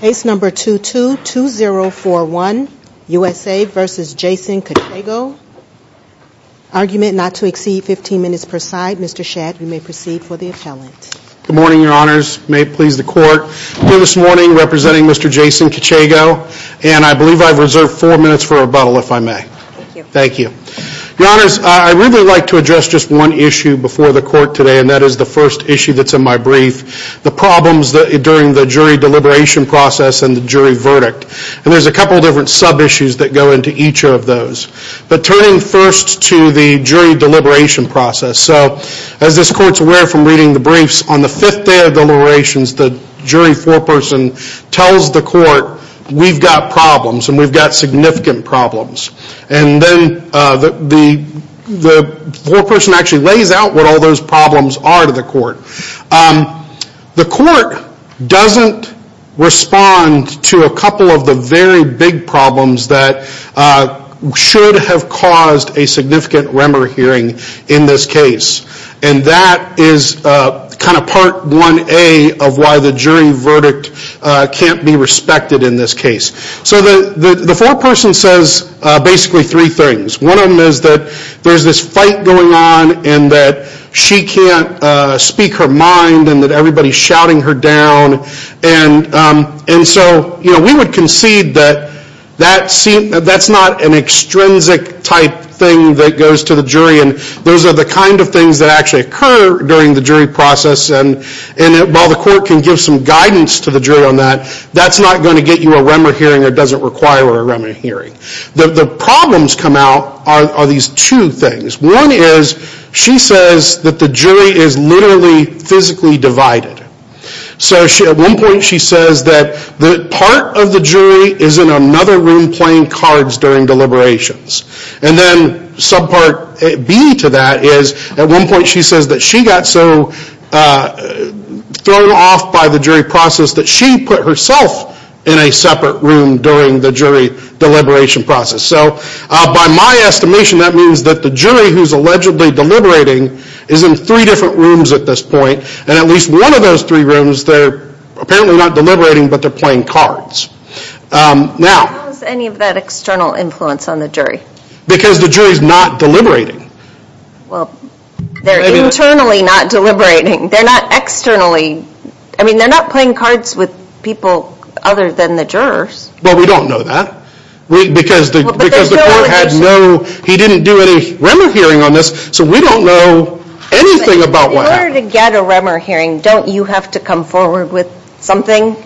Case number 222041, USA v. Jason Kechego. Argument not to exceed 15 minutes per side. Mr. Shadd, you may proceed for the appellant. Good morning, your honors. May it please the court. Here this morning representing Mr. Jason Kechego, and I believe I've reserved four minutes for rebuttal if I may. Thank you. Your honors, I'd really like to address just one issue before the court today, and that is the first issue that's in my brief, the problems during the jury deliberation process and the jury verdict. And there's a couple of different sub-issues that go into each of those. But turning first to the jury deliberation process. So as this court's aware from reading the briefs, on the fifth day of deliberations, the jury foreperson tells the court, we've got problems and we've got significant problems. And then the foreperson actually lays out what all those problems are to the court. The court doesn't respond to a couple of the very big problems that should have caused a significant rumor hearing in this case. And that is kind of part 1A of why the jury verdict can't be respected in this case. So the foreperson says basically three things. One of them is that there's this fight going on and that she can't speak her mind and that everybody's shouting her down. And so we would concede that that's not an extrinsic type thing that goes to the jury. And those are the kind of things that actually occur during the jury process. And while the court can give some guidance to the jury on that, that's not going to get you a rumor hearing or doesn't require a rumor hearing. The problems come out are these two things. One is she says that the jury is literally physically divided. So at one point she says that part of the jury is in another room playing cards during deliberations. And then subpart B to that is at one point she says that she got so thrown off by the jury process that she put herself in a separate room during the jury deliberation process. So by my estimation that means that the jury who's allegedly deliberating is in three different rooms at this point. And at least one of those three rooms they're apparently not deliberating but they're playing cards. How is any of that external influence on the jury? Because the jury's not deliberating. Well they're internally not deliberating. They're not externally. I mean they're not playing cards with people other than the jurors. Well we don't know that. Because the court had no, he didn't do any rumor hearing on this so we don't know anything about what happened. In order to get a rumor hearing don't you have to come forward with something?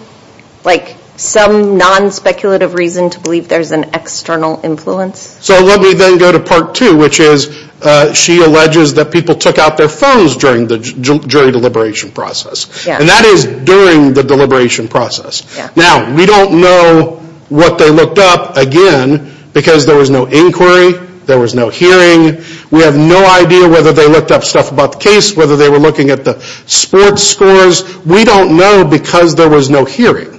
Like some non-speculative reason to believe there's an external influence? So let me then go to part two which is she alleges that people took out their phones during the jury deliberation process. And that is during the deliberation process. Now we don't know what they looked up again because there was no inquiry. There was no hearing. We have no idea whether they looked up stuff about the case. Whether they were looking at the sports scores. We don't know because there was no hearing.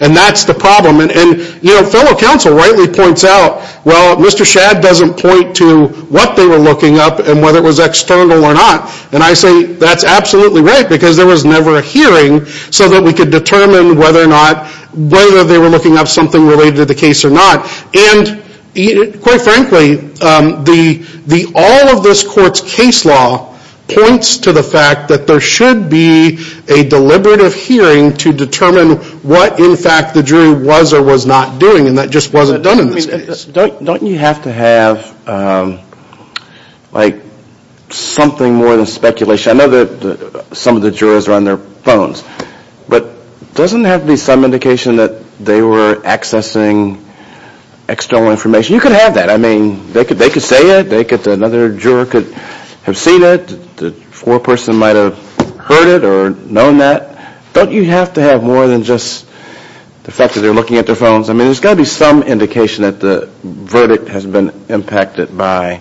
And that's the problem. And you know fellow counsel rightly points out well Mr. Shadd doesn't point to what they were looking up and whether it was external or not. And I say that's absolutely right because there was never a hearing so that we could determine whether or not, whether they were looking up something related to the case or not. And quite frankly the, the all of this court's case law points to the fact that there should be a deliberative hearing to determine what in fact the jury was or was not doing. And that just wasn't done in this case. Don't, don't you have to have like something more than speculation? I know that some of the jurors are on their phones. But doesn't it have to be some indication that they were accessing external information? You could have that. I mean they could, they could say it. They could, another juror could have seen it. The foreperson might have heard it or known that. Don't you have to have more than just the fact that they're looking at their phones? I mean there's got to be some indication that the verdict has been impacted by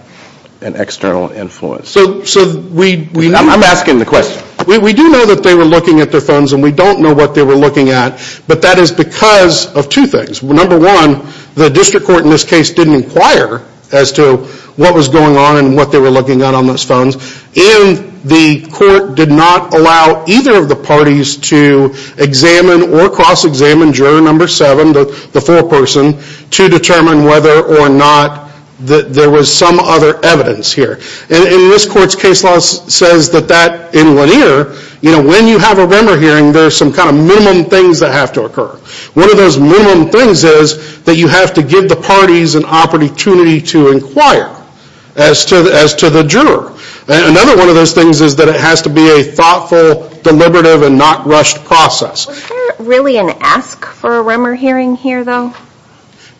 an external influence. So, so we, we I'm asking the question. We do know that they were looking at their phones and we don't know what they were looking at. But that is because of two things. Number one, the district court in this case didn't inquire as to what was going on and what they were looking at on those phones. And the court did not allow either of the parties to examine or cross-examine juror number seven, the foreperson, to determine whether or not that there was some other evidence here. And in this court's case law says that that in linear, you know, when you have a member hearing there's some kind of minimum things that have to occur. One of those minimum things is that you have to give the parties an opportunity to inquire as to, as to the juror. And another one of those things is that it has to be a thoughtful, deliberative, and not rushed process. Was there really an ask for a Remmer hearing here though?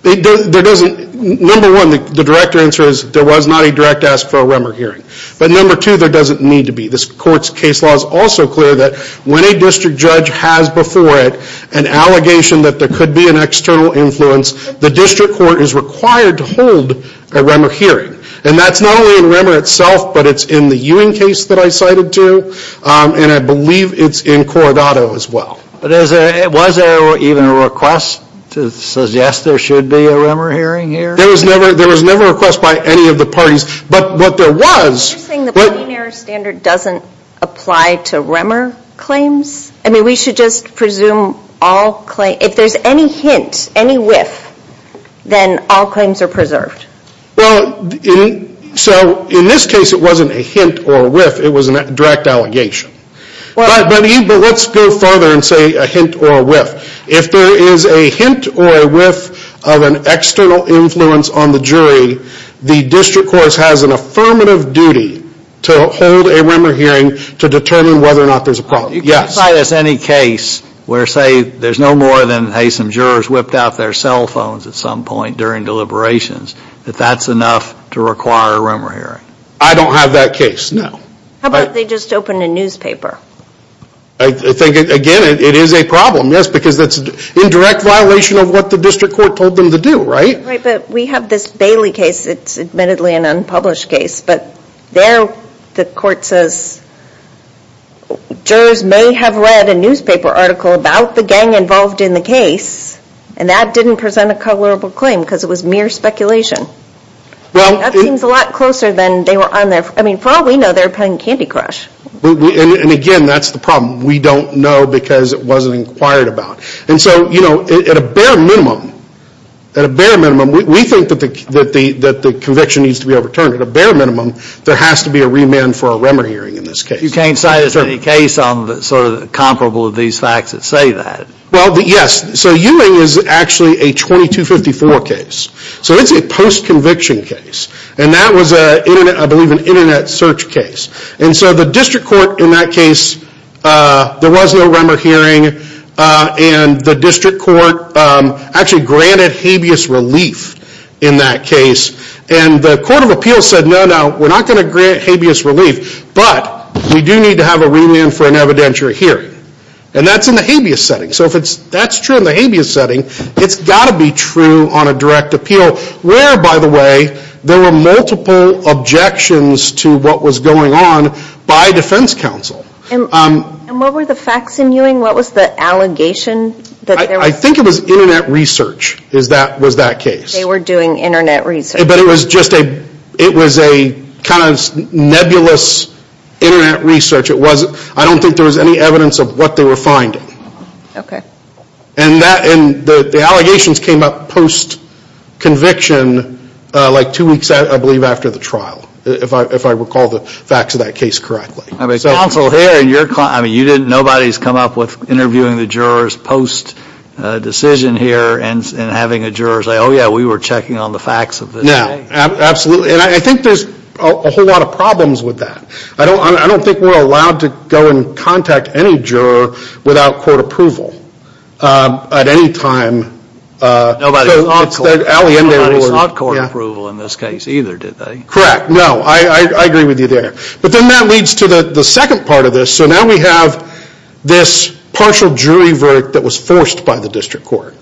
There doesn't, number one, the director answer is there was not a direct ask for a Remmer hearing. But number two, there doesn't need to be. This court's case law is also clear that when a district judge has before it an allegation that there could be an external influence, the district court is required to hold a Remmer hearing. And that's not only in Remmer itself, but it's in the Ewing case that I cited too. And I believe it's in Corradato as well. But is there, was there even a request to suggest there should be a Remmer hearing here? There was never, there was never a request by any of the parties. But what there was... You're saying the binary standard doesn't apply to Remmer claims? I mean, we should just presume all claims, if there's any hint, any whiff, then all claims are preserved. Well, so in this case it wasn't a hint or a whiff, it was a direct allegation. But let's go further and say a hint or a whiff. If there is a hint or a whiff of an external influence on the jury, the district court has an affirmative duty to hold a Remmer hearing to determine whether or not there's a problem. You can cite us any case where say there's no more than, hey, some jurors whipped out their cell phones at some point during deliberations, that that's enough to require a Remmer hearing. I don't have that case, no. How about they just open a newspaper? I think, again, it is a problem, yes, because that's an indirect violation of what the district court told them to do, right? Right, but we have this Bailey case, it's admittedly an unpublished case, but there the court says jurors may have read a newspaper article about the gang involved in the case and that didn't present a coverable claim because it was mere speculation. That seems a lot closer than they were on their, I mean, for all we know they were playing Candy Crush. And again, that's the problem. We don't know because it wasn't inquired about. And so, you know, at a bare minimum, at a bare minimum, we think that the conviction needs to be overturned. At a bare minimum, there has to be a remand for a Remmer hearing in this case. You can't cite us any case on the sort of comparable of these facts that say that. Well, yes, so Ewing is actually a 2254 case. So it's a post-conviction case. And that was a, I believe, an internet search case. And so the district court in that case, there was no Remmer hearing and the district court actually granted habeas relief in that case and the court of appeals said, no, no, we're not going to grant habeas relief, but we do need to have a remand for an evidentiary hearing. And that's in the habeas setting. So if that's true in the habeas setting, it's got to be true on a direct appeal. Where, by the way, there were multiple objections to what was going on by defense counsel. And what were the facts in Ewing? What was the allegation? I think it was internet research was that case. They were doing internet research. But it was just a, it was a kind of nebulous internet research. It wasn't, I don't think there was any evidence of what they were finding. Okay. And that, and the allegations came up post-conviction, like two weeks, I believe, after the trial. If I recall the facts of that case correctly. I mean, counsel, here in your, I mean, you didn't, nobody's come up with interviewing the jurors post-decision here and having a juror say, oh yeah, we were checking on the facts of this case. No, absolutely. And I think there's a whole lot of problems with that. I don't think we're allowed to go and contact any juror without court approval at any time. Nobody's not court approval in this case either, did they? Correct. No, I agree with you there. But then that leads to the second part of this. So now we have this partial jury work that was forced by the district court.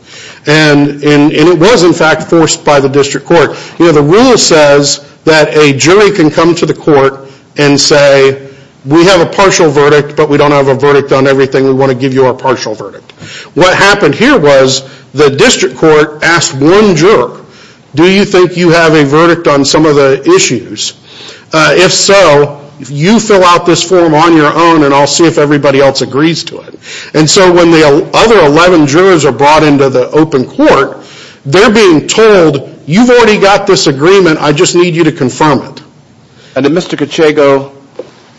And it was, in fact, forced by the district court. You know, the rule says that a jury can come to the court and say, we have a partial verdict, but we don't have a verdict on everything. We want to give you our partial verdict. What happened here was the district court asked one juror, do you think you have a verdict on some of the issues? If so, you fill out this form on your own and I'll see if everybody else agrees to it. And so when the other 11 jurors are brought into the open court, they're being told, you've already got this agreement, I just need you to confirm it. And did Mr. Cachego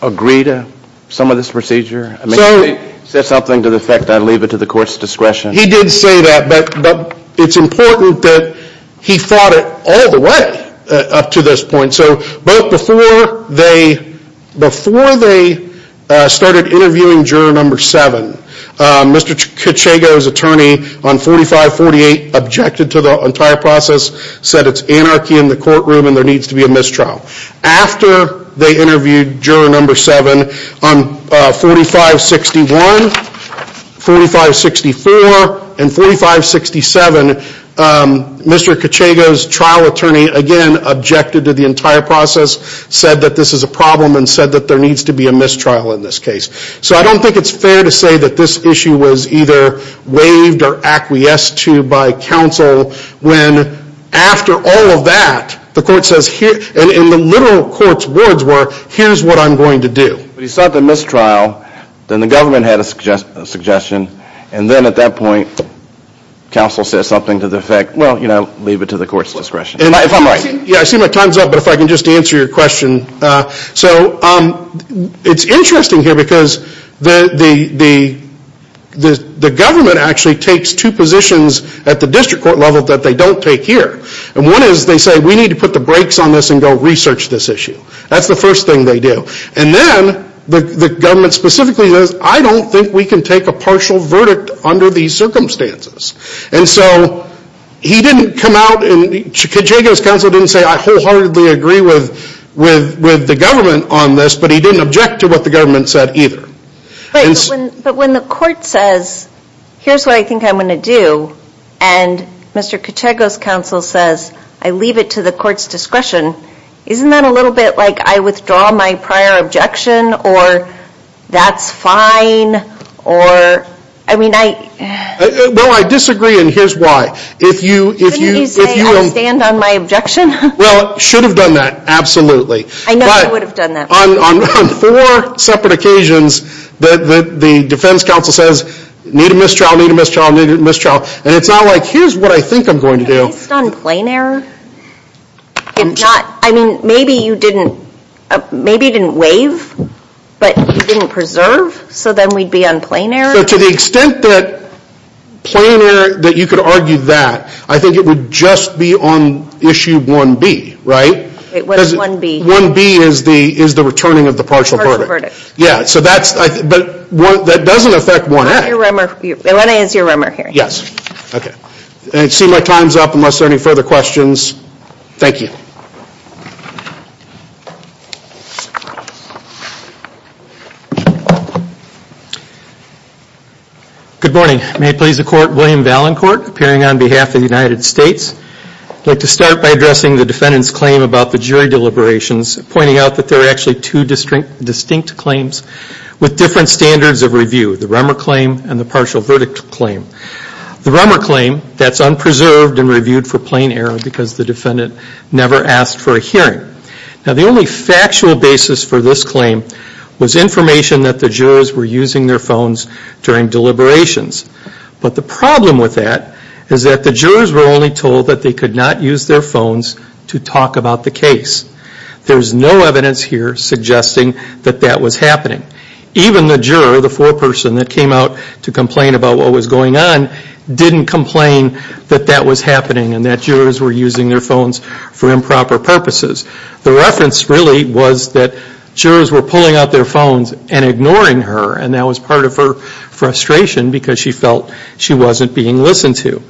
agree to some of this procedure? I mean, if he said something to the effect that I leave it to the court's discretion. He did say that, but it's important that he thought it all the way up to this point. So both before they started interviewing juror number 7, Mr. Cachego's attorney on 4548 objected to the entire process, said it's anarchy in the courtroom and there needs to be a mistrial. After they interviewed juror number 7 on 4561, 4564, and 4567, Mr. Cachego's trial attorney again objected to the entire process, said that this is a problem and said that there needs to be a mistrial in this case. So I don't think it's fair to say that this issue was either waived or acquiesced to by counsel when after all of that, the court says here, and the literal court's words were, here's what I'm going to do. But he sought the mistrial, then the government had a suggestion, and then at that point, counsel said something to the effect, well, you know, leave it to the court's discretion. If I'm right. Yeah, I see my time's up, but if I can just answer your question. So it's interesting here because the government actually takes two positions at the district court level that they don't take here. And one is they say, we need to put the brakes on this and go research this issue. That's the first thing they do. And then the government specifically says, I don't think we can take a partial verdict under these circumstances. And so he didn't come out, and Cachego's counsel didn't say, I wholeheartedly agree with the government on this, but he didn't object to what the government said either. But when the court says, here's what I think I'm going to do, and Mr. Cachego's counsel says, I leave it to the court's discretion, isn't that a little bit like I withdraw my prior objection, or that's fine, or, I mean, I... Well, I disagree, and here's why. If you... Couldn't you say, I'll stand on my objection? Well, should have done that, absolutely. I know I would have done that. But, on four separate occasions, the defense counsel says, need a mistrial, need a mistrial, need a mistrial, and it's not like, here's what I think I'm going to do. Based on plain error, if not, I mean, maybe you didn't waive, but you didn't preserve, so then we'd be on plain error? So to the extent that plain error, that you could argue that, I think it would just be on issue 1B, right? What is 1B? 1B is the returning of the partial verdict. Yeah, so that's... But that doesn't affect 1A. 1A is your rumor hearing. Yes. Okay. I see my time's up, unless there are any further questions. Thank you. Good morning, may it please the court, William Valancourt, appearing on behalf of the United States. I'd like to start by addressing the defendant's claim about the jury deliberations, pointing out that there are actually two distinct claims with different standards of review, the rumor claim and the partial verdict claim. The rumor claim, that's unpreserved and reviewed for plain error because the defendant never asked for a hearing. Now, the only factual basis for this claim was information that the jurors were using their phones during deliberations. But the problem with that is that the jurors were only told that they could not use their phones to talk about the case. There's no evidence here suggesting that that was happening. Even the juror, the foreperson that came out to complain about what was going on, didn't complain that that was happening and that jurors were using their phones for improper purposes. The reference really was that jurors were pulling out their phones and ignoring her, and that was part of her frustration because she felt she wasn't being listened to.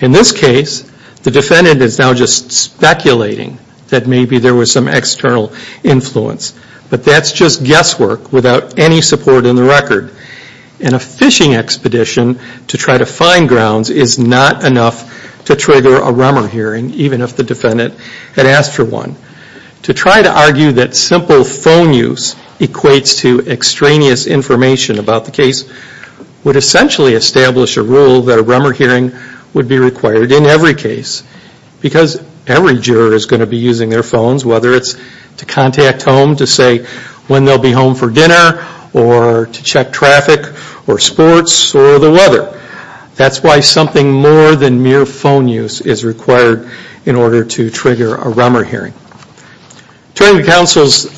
In this case, the defendant is now just speculating that maybe there was some external influence, but that's just guesswork without any support in the record. In a phishing expedition, to try to find grounds is not enough to trigger a rumor hearing, even if the defendant had asked for one. To try to argue that simple phone use equates to extraneous information about the case would essentially establish a rule that a rumor hearing would be required in every case because every juror is going to be using their phones, whether it's to contact home to say when they'll be home for dinner or to check traffic or sports or the weather. That's why something more than mere phone use is required in order to trigger a rumor hearing. Turning to counsel's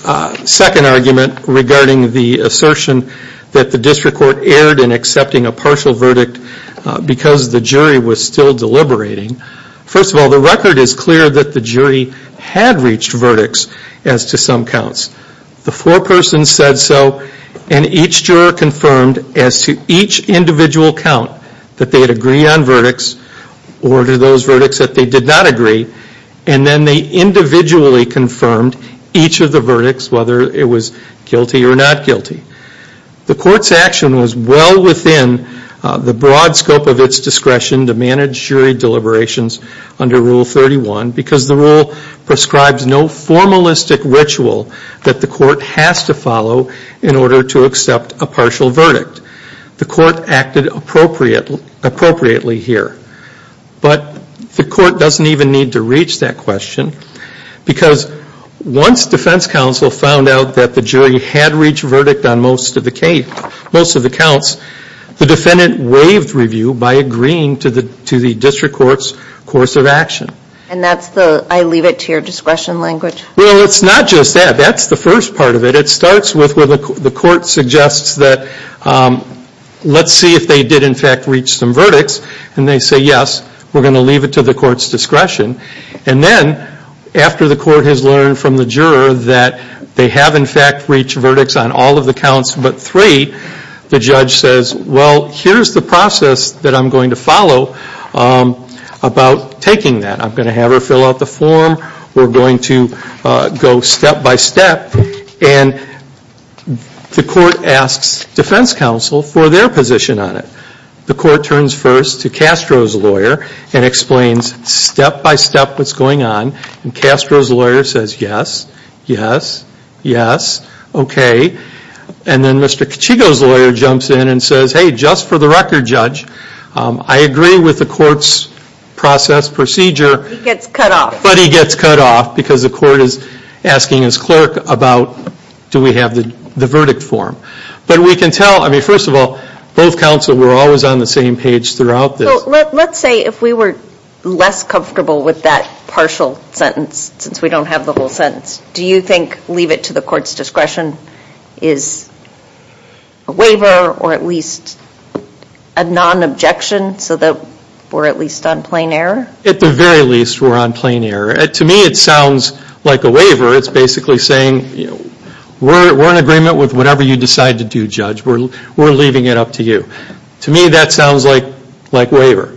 second argument regarding the assertion that the district court erred in accepting a partial verdict because the jury was still deliberating, first of all, the record is clear that the jury had reached verdicts as to some counts. The foreperson said so, and each juror confirmed as to each individual count that they'd agree on verdicts or to those verdicts that they did not agree, and then they individually confirmed each of the verdicts, whether it was guilty or not guilty. The court's action was well within the broad scope of its discretion to manage jury deliberations under Rule 31 because the rule prescribes no formalistic ritual that the court has to follow in order to accept a partial verdict. The court acted appropriately here. But the court doesn't even need to reach that question because once defense counsel found out that the jury had reached verdict on most of the counts, the defendant waived review by agreeing to the district court's course of action. And that's the, I leave it to your discretion language? Well, it's not just that. That's the first part of it. It starts with where the court suggests that let's see if they did in fact reach some verdicts, and they say yes, we're going to leave it to the court's discretion. And then after the court has learned from the juror that they have in fact reached verdicts on all of the counts but three, the judge says, well, here's the process that I'm going to follow about taking that. I'm going to have her fill out the form, we're going to go step by step, and the court asks defense counsel for their position on it. The court turns first to Castro's lawyer and explains step by step what's going on, and Castro's lawyer says yes, yes, yes, okay. And then Mr. Cachigo's lawyer jumps in and says, hey, just for the record, judge, I agree with the court's process procedure, but he gets cut off because the court is asking his clerk about do we have the verdict form. But we can tell, I mean, first of all, both counsel were always on the same page throughout this. So let's say if we were less comfortable with that partial sentence, since we don't have the whole sentence, do you think leave it to the court's discretion is a waiver or at least a non-objection so that we're at least on plain error? At the very least, we're on plain error. To me, it sounds like a waiver. It's basically saying we're in agreement with whatever you decide to do, judge. We're leaving it up to you. To me, that sounds like waiver.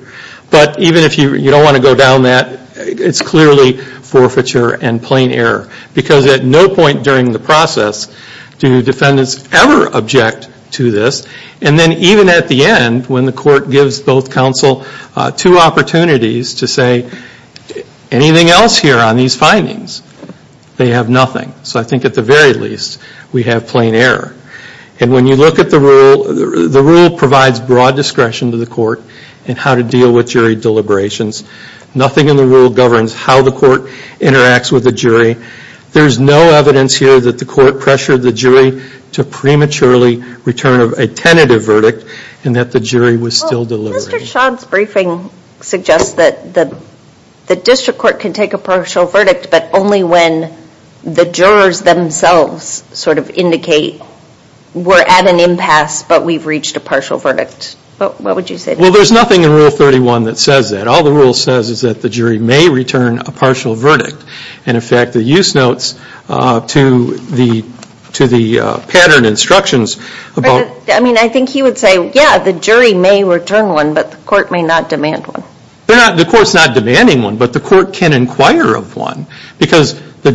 But even if you don't want to go down that, it's clearly forfeiture and plain error. Because at no point during the process do defendants ever object to this, and then even at the end when the court gives both counsel two opportunities to say anything else here on these findings, they have nothing. So I think at the very least, we have plain error. And when you look at the rule, the rule provides broad discretion to the court in how to deal with jury deliberations. Nothing in the rule governs how the court interacts with the jury. There's no evidence here that the court pressured the jury to prematurely return a tentative verdict and that the jury was still deliberating. Well, Mr. Schott's briefing suggests that the district court can take a partial verdict, but only when the jurors themselves sort of indicate we're at an impasse, but we've reached a partial verdict. What would you say to that? Well, there's nothing in Rule 31 that says that. All the rule says is that the jury may return a partial verdict. And in fact, the use notes to the pattern instructions about... I mean, I think he would say, yeah, the jury may return one, but the court may not demand one. The court's not demanding one, but the court can inquire of one, because the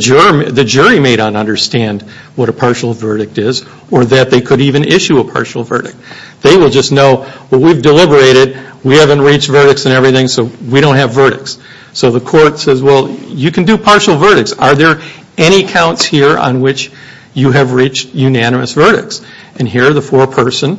jury may not understand what a partial verdict is or that they could even issue a partial verdict. They will just know, well, we've deliberated. We haven't reached verdicts and everything, so we don't have verdicts. So the court says, well, you can do partial verdicts. Are there any counts here on which you have reached unanimous verdicts? And here, the foreperson,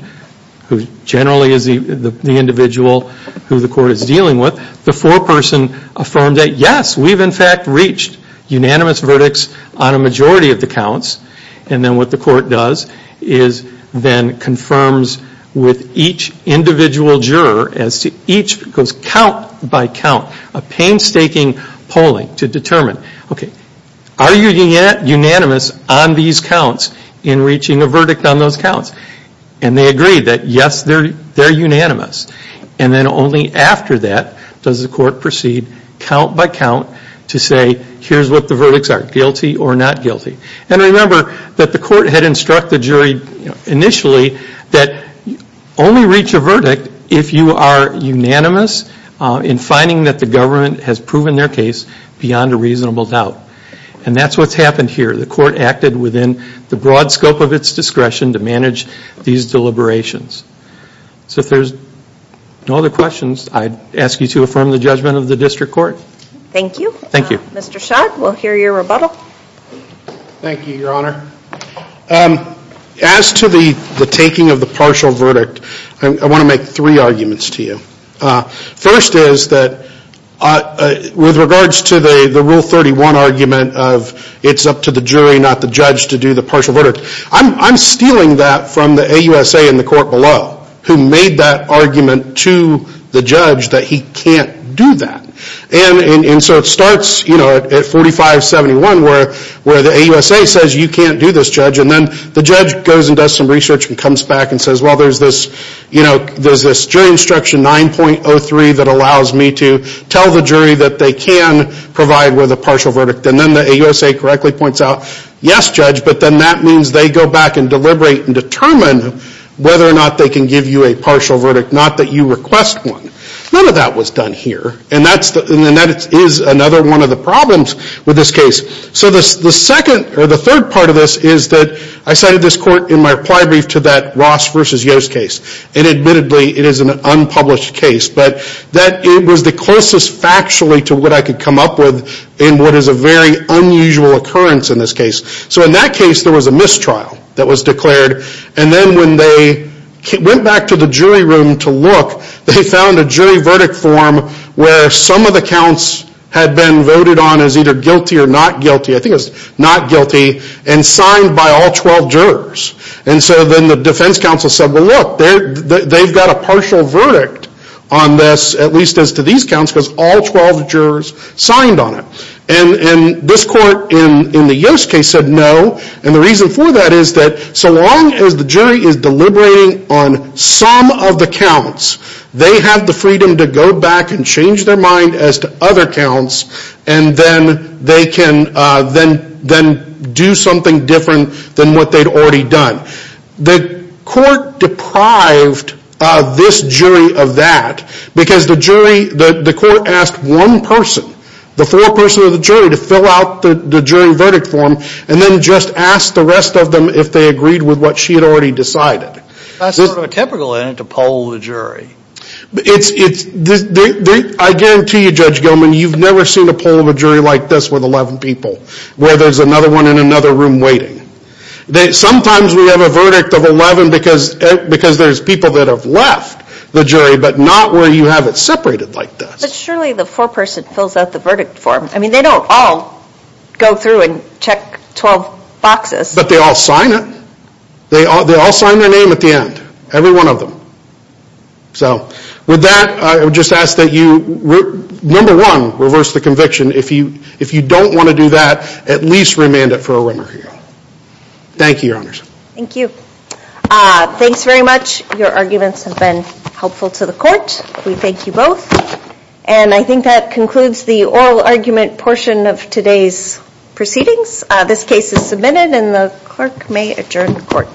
who generally is the individual who the court is dealing with, the foreperson affirmed that, yes, we've in fact reached unanimous verdicts on a majority of the counts. And then what the court does is then confirms with each individual juror as to each goes count by count, a painstaking polling to determine, okay, are you unanimous on these counts in reaching a verdict on those counts? And they agree that, yes, they're unanimous. And then only after that does the court proceed count by count to say, here's what the verdicts are, guilty or not guilty. And remember that the court had instructed the jury initially that only reach a verdict if you are unanimous in finding that the government has proven their case beyond a reasonable doubt. And that's what's happened here. The court acted within the broad scope of its discretion to manage these deliberations. So if there's no other questions, I'd ask you to affirm the judgment of the district court. Thank you. Thank you. Mr. Schott, we'll hear your rebuttal. Thank you, Your Honor. As to the taking of the partial verdict, I want to make three arguments to you. First is that with regards to the Rule 31 argument of it's up to the jury, not the judge, to do the partial verdict, I'm stealing that from the AUSA in the court below who made that argument to the judge that he can't do that. And so it starts, you know, at 4571 where the AUSA says you can't do this, Judge. And then the judge goes and does some research and comes back and says, well, there's this jury instruction 9.03 that allows me to tell the jury that they can provide with a partial verdict. And then the AUSA correctly points out, yes, Judge, but then that means they go back and deliberate and determine whether or not they can give you a partial verdict, not that you request one. None of that was done here. And that is another one of the problems with this case. So the second or the third part of this is that I cited this court in my reply brief to that Ross versus Yost case, and admittedly it is an unpublished case, but that it was the closest factually to what I could come up with in what is a very unusual occurrence in this case. So in that case there was a mistrial that was declared, and then when they went back to the jury room to look, they found a jury verdict form where some of the counts had been voted on as either guilty or not guilty, I think it was not guilty, and signed by all 12 jurors. And so then the defense counsel said, well, look, they've got a partial verdict on this, at least as to these counts, because all 12 jurors signed on it. And this court in the Yost case said no, and the reason for that is that so long as the jury is deliberating on some of the counts, they have the freedom to go back and change their mind as to other counts, and then they can then do something different than what they'd already done. The court deprived this jury of that, because the jury, the court asked one person, the foreperson of the jury, to fill out the jury verdict form, and then just asked the rest of them if they agreed with what she had already decided. That's sort of a typical in it to poll the jury. I guarantee you, Judge Gilman, you've never seen a poll of a jury like this with 11 people, where there's another one in another room waiting. Sometimes we have a verdict of 11 because there's people that have left the jury, but not where you have it separated like this. But surely the foreperson fills out the verdict form. I mean, they don't all go through and check 12 boxes. But they all sign it. They all sign their name at the end, every one of them. So with that, I would just ask that you, number one, reverse the conviction. If you don't want to do that, at least remand it for a rumor hearing. Thank you, Your Honors. Thank you. Thanks very much. Your arguments have been helpful to the court. We thank you both. And I think that concludes the oral argument portion of today's proceedings. This case is submitted, and the clerk may adjourn the court.